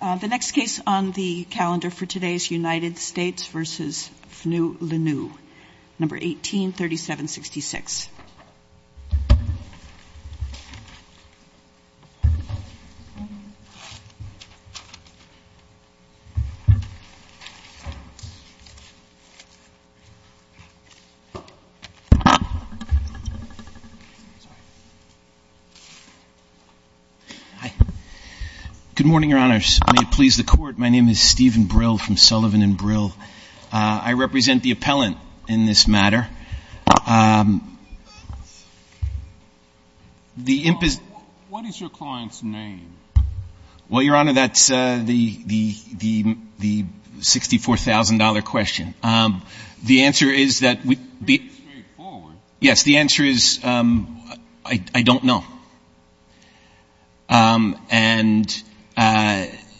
The next case on the calendar for today is United States v. FNU-LNU, No. 18-3766. Good morning, Your Honors. May it please the Court, my name is Stephen Brill from Sullivan & Brill. I represent the appellant in this matter. What is your client's name? Well, Your Honor, that's the $64,000 question. The answer is that we'd be straightforward. Yes, the answer is, I don't know. And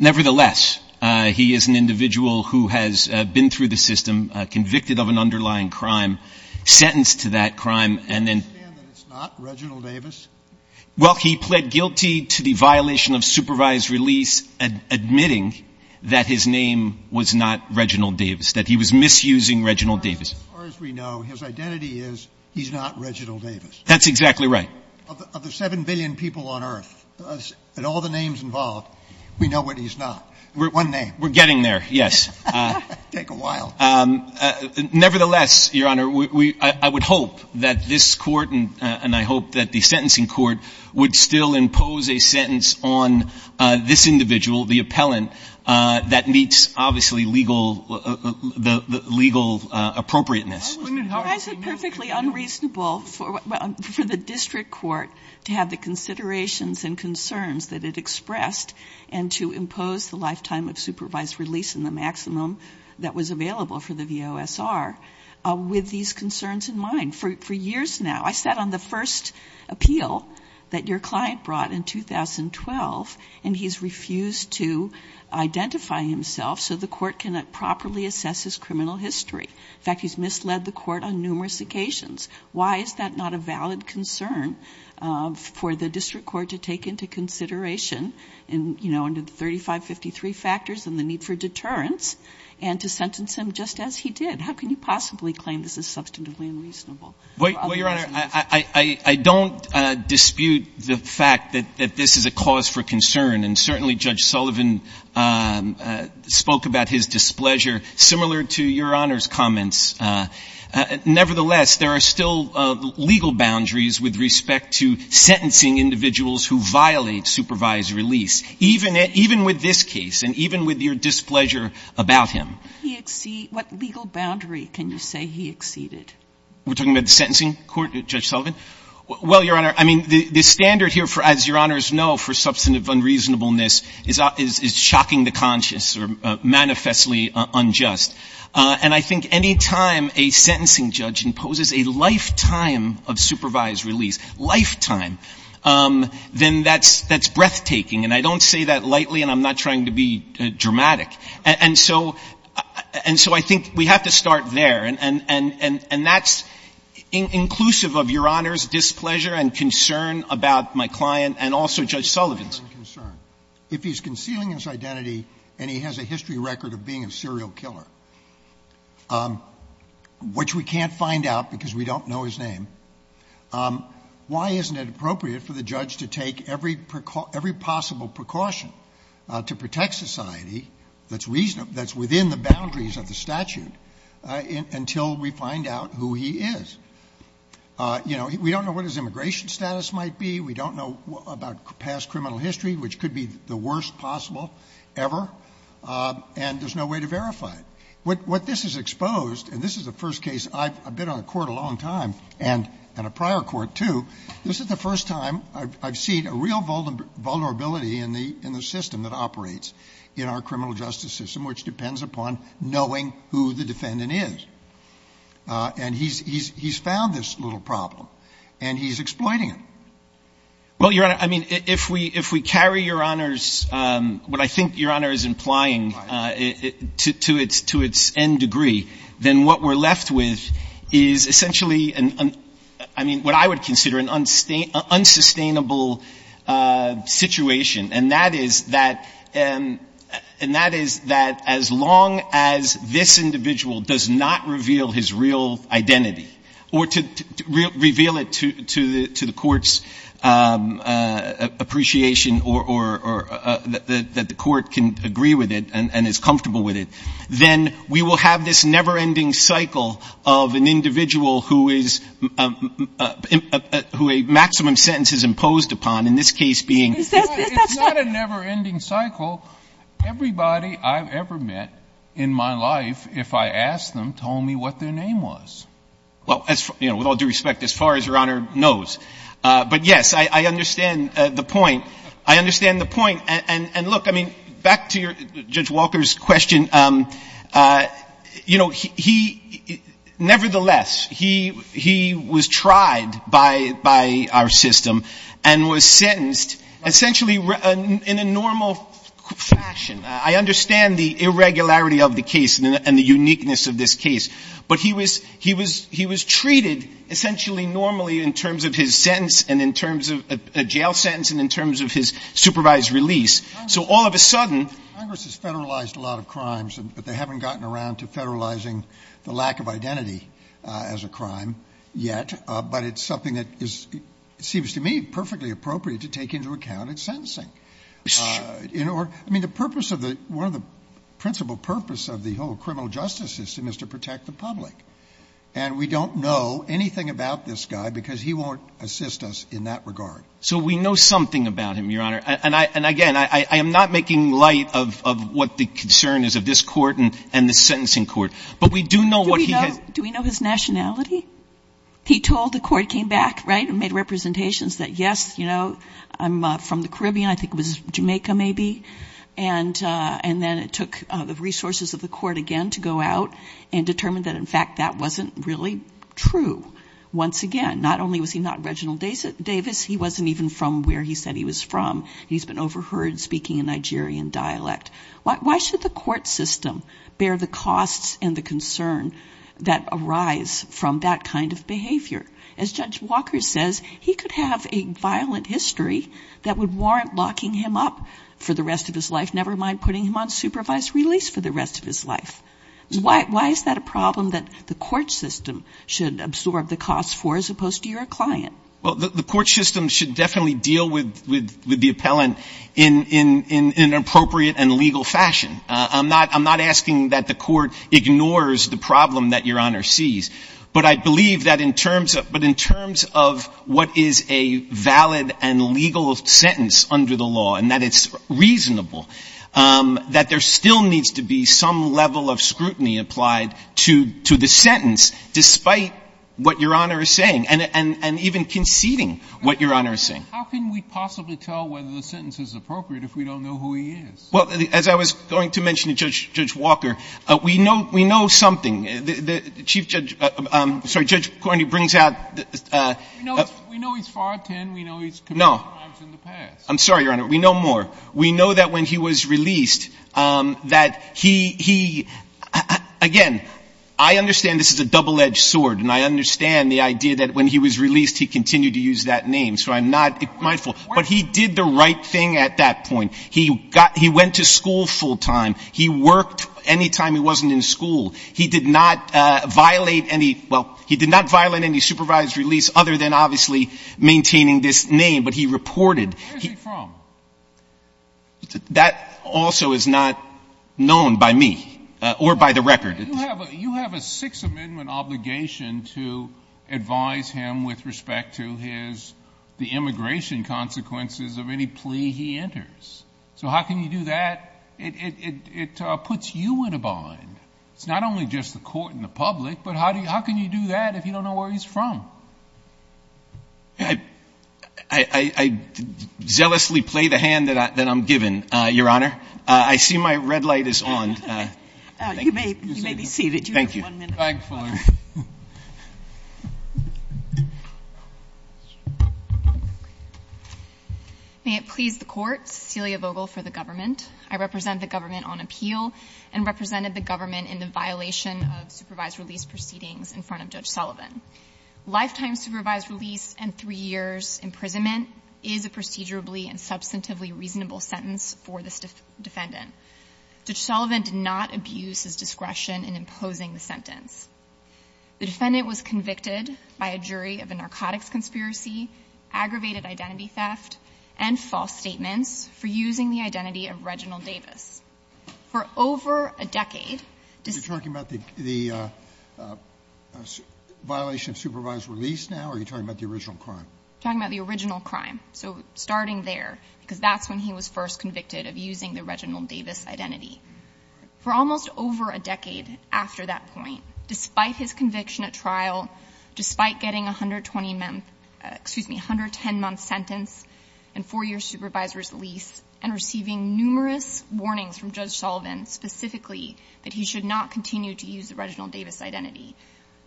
nevertheless, he is an individual who has been through the system, convicted of an underlying crime, sentenced to that crime, and then – I understand that it's not Reginald Davis? Well, he pled guilty to the violation of supervised release, admitting that his name was not Reginald Davis, that he was misusing Reginald Davis. As far as we know, his identity is he's not Reginald Davis. That's exactly right. Of the 7 billion people on earth, and all the names involved, we know that he's not. One name. We're getting there, yes. Take a while. Nevertheless, Your Honor, I would hope that this Court, and I hope that the sentencing court, would still impose a sentence on this individual, the appellant, that meets, obviously, legal appropriateness. Why is it perfectly unreasonable for the district court to have the considerations and concerns that it expressed, and to impose the lifetime of supervised release and the maximum that was available for the district for years now? I sat on the first appeal that your client brought in 2012, and he's refused to identify himself, so the court cannot properly assess his criminal history. In fact, he's misled the court on numerous occasions. Why is that not a valid concern for the district court to take into consideration, you know, under the 3553 factors and the need for deterrence, and to sentence him just as he did? How can you possibly claim this is substantively unreasonable? Well, Your Honor, I don't dispute the fact that this is a cause for concern, and certainly Judge Sullivan spoke about his displeasure similar to Your Honor's comments. Nevertheless, there are still legal boundaries with respect to sentencing individuals who violate supervised release, even with this case, and even with your displeasure about him. What legal boundary can you say he exceeded? We're talking about the sentencing court, Judge Sullivan? Well, Your Honor, I mean, the standard here, as Your Honors know, for substantive unreasonableness is shocking the conscious or manifestly unjust, and I think any time a sentencing judge imposes a lifetime of supervised release, lifetime, then that's breathtaking, and I don't say that lightly, and I'm not trying to be dramatic. And so I think we have to start there, and that's inclusive of Your Honor's displeasure and concern about my client and also Judge Sullivan's. If he's concealing his identity and he has a history record of being a serial killer, which we can't find out because we don't know his name, why isn't it appropriate for the judge to take every possible precaution to protect society that's within the boundaries of the statute until we find out who he is? You know, we don't know what his immigration status might be. We don't know about past criminal history, which could be the worst possible ever, and there's no way to verify it. What this has exposed, and this is the first case I've been on a court a long time and a prior court, too, this is the first time I've seen a real vulnerability in the system that operates in our criminal justice system, which depends upon knowing who the defendant is. And he's found this little problem, and he's exploiting it. Well, Your Honor, I mean, if we carry Your Honor's, what I think Your Honor is implying to its end degree, then what we're left with is essentially, I mean, what I would consider an unsustainable situation, and that is that as long as this individual does not reveal his real identity or to reveal it to the court's appreciation or that the court can agree with it and is comfortable with it, then we will have this never-ending cycle of an individual who is, who a maximum sentence is imposed upon, in this case being. It's not a never-ending cycle. Everybody I've ever met in my life, if I asked them, told me what their name was. Well, you know, with all due respect, as far as Your Honor knows. But, yes, I understand the point. I understand the point. And look, I mean, back to your, Judge Walker's question, you know, he, nevertheless, he was tried by our system and was sentenced essentially in a normal fashion. I understand the irregularity of the case and the uniqueness of this case. But he was treated essentially normally in terms of his supervised release. So all of a sudden. Congress has federalized a lot of crimes, but they haven't gotten around to federalizing the lack of identity as a crime yet. But it's something that is, it seems to me, perfectly appropriate to take into account its sentencing. I mean, the purpose of the, one of the principal purpose of the whole criminal justice system is to protect the public. And we don't know anything about this guy because he won't assist us in that regard. So we know something about him, Your Honor. And again, I am not making light of what the concern is of this court and the sentencing court. But we do know what he has Do we know his nationality? He told the court, came back, right, and made representations that, yes, you know, I'm from the Caribbean. I think it was Jamaica maybe. And then it took the resources of the court again to go out and determine that, in fact, that wasn't really true. Once again, not only was he not Reginald Davis, he wasn't even from where he said he was from. He's been overheard speaking in Nigerian dialect. Why should the court system bear the costs and the concern that arise from that kind of behavior? As Judge Walker says, he could have a violent history that would warrant locking him up for the rest of his life, never mind putting him on supervised release for the rest of his life. Why is that a client? Well, the court system should definitely deal with the appellant in an appropriate and legal fashion. I'm not asking that the court ignores the problem that Your Honor sees. But I believe that in terms of what is a valid and legal sentence under the law and that it's reasonable, that there still needs to be some level of scrutiny applied to the sentence, despite what Your Honor is saying. And even conceding what Your Honor is saying. How can we possibly tell whether the sentence is appropriate if we don't know who he is? Well, as I was going to mention to Judge Walker, we know we know something. The Chief Judge — I'm sorry, Judge Cornyn brings out the — We know he's 5'10", we know he's committed crimes in the past. No. I'm sorry, Your Honor. We know more. We know that when he was released, that he — he — again, I understand this is a double-edged sword, and I understand the idea that when he was released, he continued to use that name. So I'm not mindful. But he did the right thing at that point. He got — he went to school full-time. He worked any time he wasn't in school. He did not violate any — well, he did not violate any supervised release, other than obviously maintaining this name. But he reported — Where is he from? That also is not known by me or by the record. You have a Sixth Amendment obligation to advise him with respect to his — the immigration consequences of any plea he enters. So how can you do that? It puts you in a bind. It's not only just the court and the public, but how can you do that if you don't know where he's from? I zealously play the hand that I'm given, Your Honor. I see my red light is on. You may be seated. Thank you. May it please the Court, Cecilia Vogel for the government. I represent the government on appeal and represented the government in the violation of supervised release proceedings in front of Judge Sullivan. Lifetime supervised release and three years imprisonment is a procedurally and substantively reasonable sentence for this defendant. Judge Sullivan did not abuse his discretion in imposing the sentence. The defendant was convicted by a jury of a narcotics conspiracy, aggravated identity theft, and false statements for using the identity of Reginald Davis. For over a decade — Are you talking about the violation of supervised release now, or are you talking about the original crime? I'm talking about the original crime. So starting there, because that's when he was first convicted of using the Reginald Davis identity. For almost over a decade after that point, despite his conviction at trial, despite getting 120-month — excuse me, 110-month sentence and four-year supervisor's lease and receiving numerous warnings from Judge Sullivan specifically that he should not continue to use the Reginald Davis identity,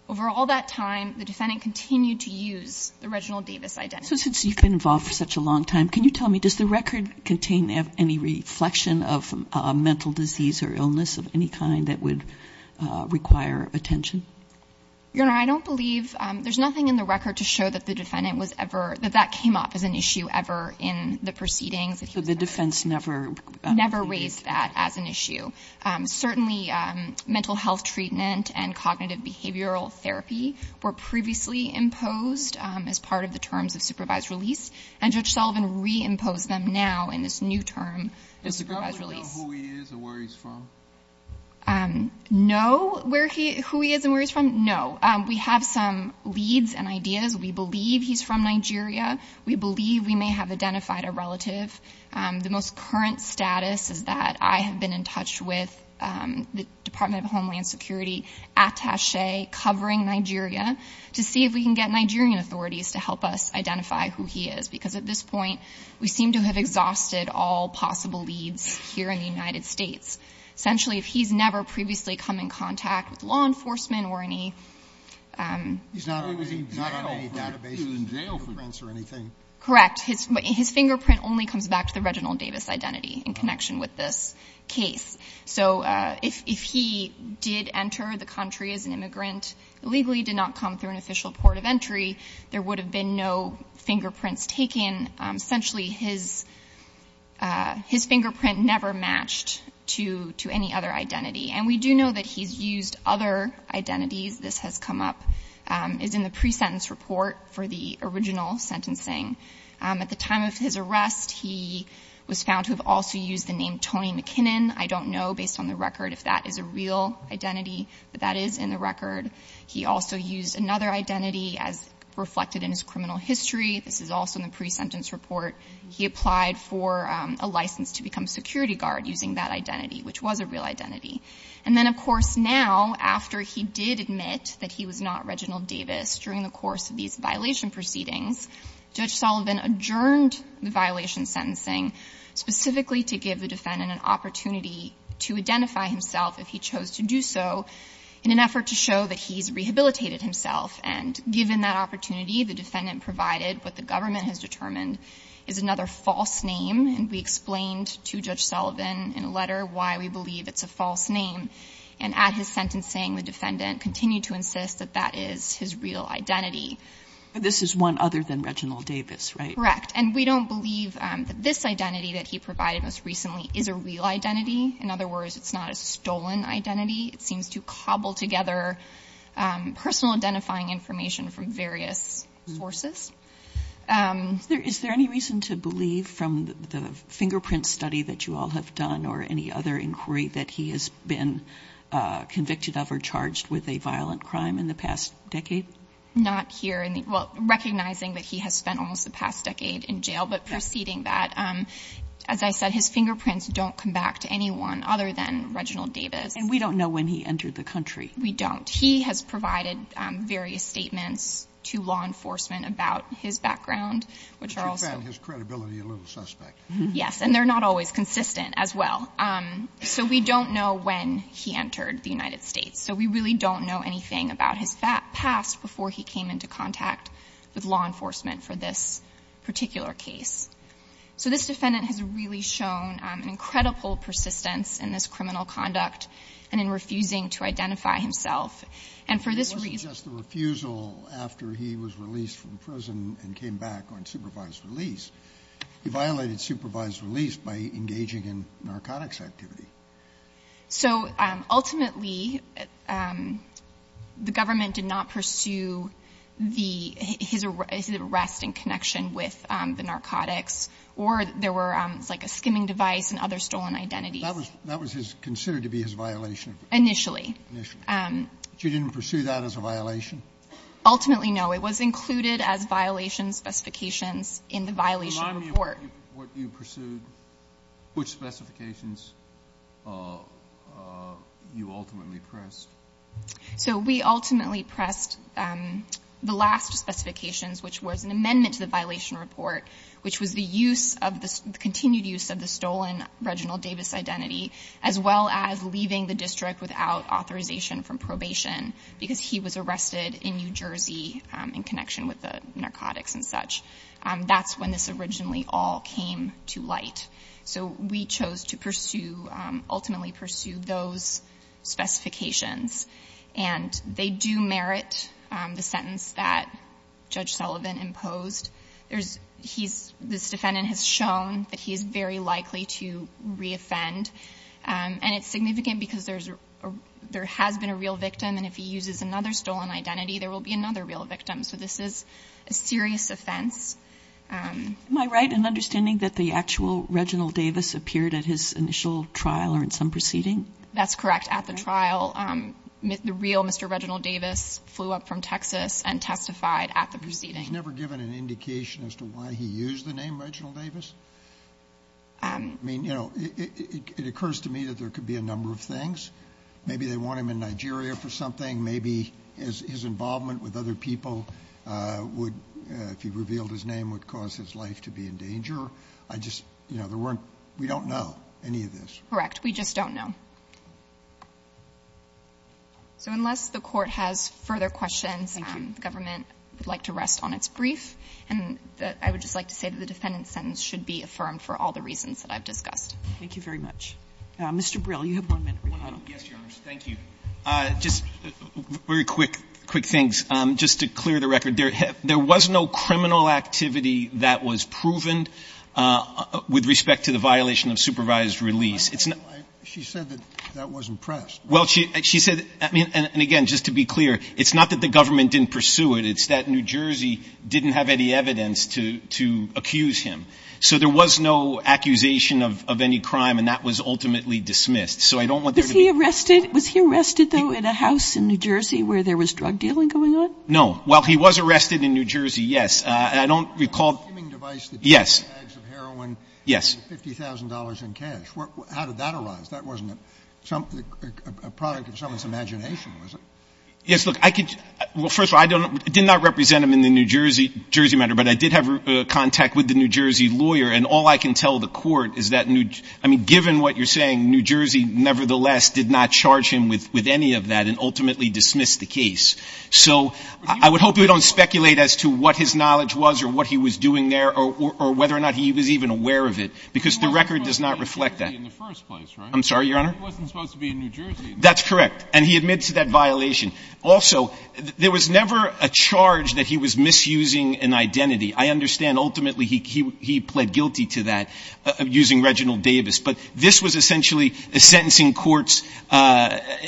over all that time, the defendant continued to use the Reginald Davis identity. So since you've been involved for such a long time, can you tell me, does the record contain any reflection of a mental disease or illness of any kind that would require attention? Your Honor, I don't believe — there's nothing in the record to show that the defendant was ever — that that came up as an issue ever in the proceedings. So the defense never — Never raised that as an issue. Certainly mental health treatment and cognitive behavioral therapy were previously imposed as part of the terms of supervised release, and Judge Sullivan re-imposed them now in this new term of supervised release. Does he probably know who he is and where he's from? No, where he — who he is and where he's from? No. We have some leads and ideas. We believe he's from Nigeria. We believe we may have identified a relative. The most current status is that I have been in touch with the Department of Immigration and Immigration Affairs, and we're working our way, covering Nigeria, to see if we can get Nigerian authorities to help us identify who he is. Because at this point, we seem to have exhausted all possible leads here in the United States. Essentially, he's never previously come in contact with law enforcement or any — He's not on any database, fingerprints or anything. Correct. His fingerprint only comes back to the Reginald Davis identity in connection with this case. So if he did enter the country as an immigrant, illegally, did not come through an official port of entry, there would have been no fingerprints taken. Essentially, his — his fingerprint never matched to — to any other identity. And we do know that he's used other identities. This has come up — is in the pre-sentence report for the original sentencing. At the time of his arrest, he was found to have also used the name Tony McKinnon. I don't know, based on the record, if that is a real identity, but that is in the record. He also used another identity as reflected in his criminal history. This is also in the pre-sentence report. He applied for a license to become security guard using that identity, which was a real identity. And then, of course, now, after he did admit that he was not Reginald Davis during the course of these violation proceedings, Judge Sullivan adjourned the violation sentencing specifically to give the defendant an opportunity to identify himself if he chose to do so in an effort to show that he's rehabilitated himself. And given that opportunity, the defendant provided what the government has determined is another false name. And we explained to Judge Sullivan in a letter why we believe it's a false name. And at his sentencing, the defendant continued to insist that that is his real identity. But this is one other than Reginald Davis, right? Correct. And we don't believe that this identity that he provided most recently is a real identity. In other words, it's not a stolen identity. It seems to cobble together personal identifying information from various sources. Is there any reason to believe from the fingerprint study that you all have done or any other inquiry that he has been convicted of or charged with a violent crime in the past decade? Not here. Well, recognizing that he has spent almost the past decade in jail, but proceeding that, as I said, his fingerprints don't come back to anyone other than Reginald Davis. And we don't know when he entered the country. We don't. He has provided various statements to law enforcement about his background, which are also — But you found his credibility a little suspect. Yes. And they're not always consistent as well. So we don't know when he entered the United States. So we really don't know anything about his past before he came into contact with law enforcement for this particular case. So this defendant has really shown an incredible persistence in this criminal conduct and in refusing to identify himself. And for this reason — But it wasn't just the refusal after he was released from prison and came back on supervised release. He violated supervised release by engaging in narcotics activity. So ultimately, the government did not pursue the — his arrest in connection with the narcotics, or there were, like, a skimming device and other stolen identities. That was considered to be his violation. Initially. Initially. But you didn't pursue that as a violation? Ultimately, no. It was included as violation specifications in the violation report. What you pursued, which specifications you ultimately pressed? So we ultimately pressed the last specifications, which was an amendment to the violation report, which was the use of the — the continued use of the stolen Reginald Davis identity, as well as leaving the district without authorization from probation because he was arrested in New Jersey in connection with the So we chose to pursue — ultimately pursue those specifications. And they do merit the sentence that Judge Sullivan imposed. There's — he's — this defendant has shown that he is very likely to reoffend. And it's significant because there's — there has been a real victim, and if he uses another stolen identity, there will be another real victim. So this is a serious offense. Am I right in understanding that the actual Reginald Davis appeared at his initial trial or in some proceeding? That's correct. At the trial, the real Mr. Reginald Davis flew up from Texas and testified at the proceeding. He's never given an indication as to why he used the name Reginald Davis? I mean, you know, it occurs to me that there could be a number of things. Maybe they want him in Nigeria for something. Maybe his involvement with other people would — if he revealed his name would cause his life to be in danger. I just — you know, there weren't — we don't know any of this. Correct. We just don't know. So unless the Court has further questions — Thank you. — the government would like to rest on its brief. And I would just like to say that the defendant's sentence should be affirmed for all the reasons that I've discussed. Thank you very much. Mr. Brill, you have one minute. Yes, Your Honor. Thank you. Just very quick things. Just to clear the record, there was no criminal activity that was proven with respect to the violation of supervised release. It's not — She said that that wasn't pressed. Well, she said — I mean, and again, just to be clear, it's not that the government didn't pursue it. It's that New Jersey didn't have any evidence to accuse him. So there was no accusation of any crime, and that was ultimately dismissed. So I don't want there to be — Was he arrested? Was he arrested, though, in a house in New Jersey where there was drug dealing going on? No. Well, he was arrested in New Jersey, yes. And I don't recall —— a deeming device that — Yes. — contained bags of heroin — Yes. — with $50,000 in cash. How did that arise? That wasn't a product of someone's imagination, was it? Yes, look, I could — well, first of all, I did not represent him in the New Jersey matter, but I did have contact with the New Jersey lawyer. And all I can tell the Court is that — I mean, given what you're saying, New Jersey nevertheless did not charge him with any of that and ultimately dismissed the case. So I would hope you don't speculate as to what his knowledge was or what he was doing there or whether or not he was even aware of it, because the record does not reflect that. He wasn't supposed to be in New Jersey in the first place, right? I'm sorry, Your Honor? He wasn't supposed to be in New Jersey. That's correct. And he admits to that violation. Also, there was never a charge that he was misusing an identity. I understand, ultimately, he pled guilty to that using Reginald Davis, but this was essentially a sentencing court's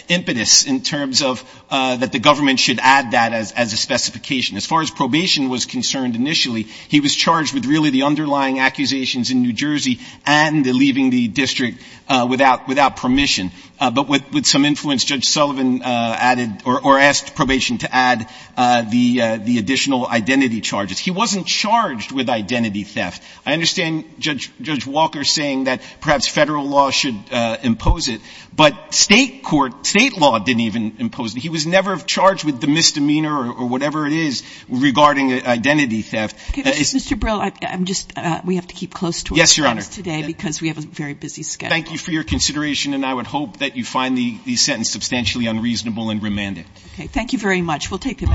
impetus in terms of that the government should add that as a specification. As far as probation was concerned initially, he was charged with really the underlying accusations in New Jersey and leaving the district without permission. But with some influence, Judge Sullivan added — or asked probation to add the additional identity charges. He wasn't charged with identity theft. I understand Judge Walker saying that perhaps federal law should impose it, but state court — state law didn't even impose it. He was never charged with the misdemeanor or whatever it is regarding identity theft. Okay, Mr. Brill, I'm just — we have to keep close to our friends today because we have a very busy schedule. Thank you for your consideration, and I would hope that you find the sentence substantially unreasonable and remand it. Okay, thank you very much. We'll take it back.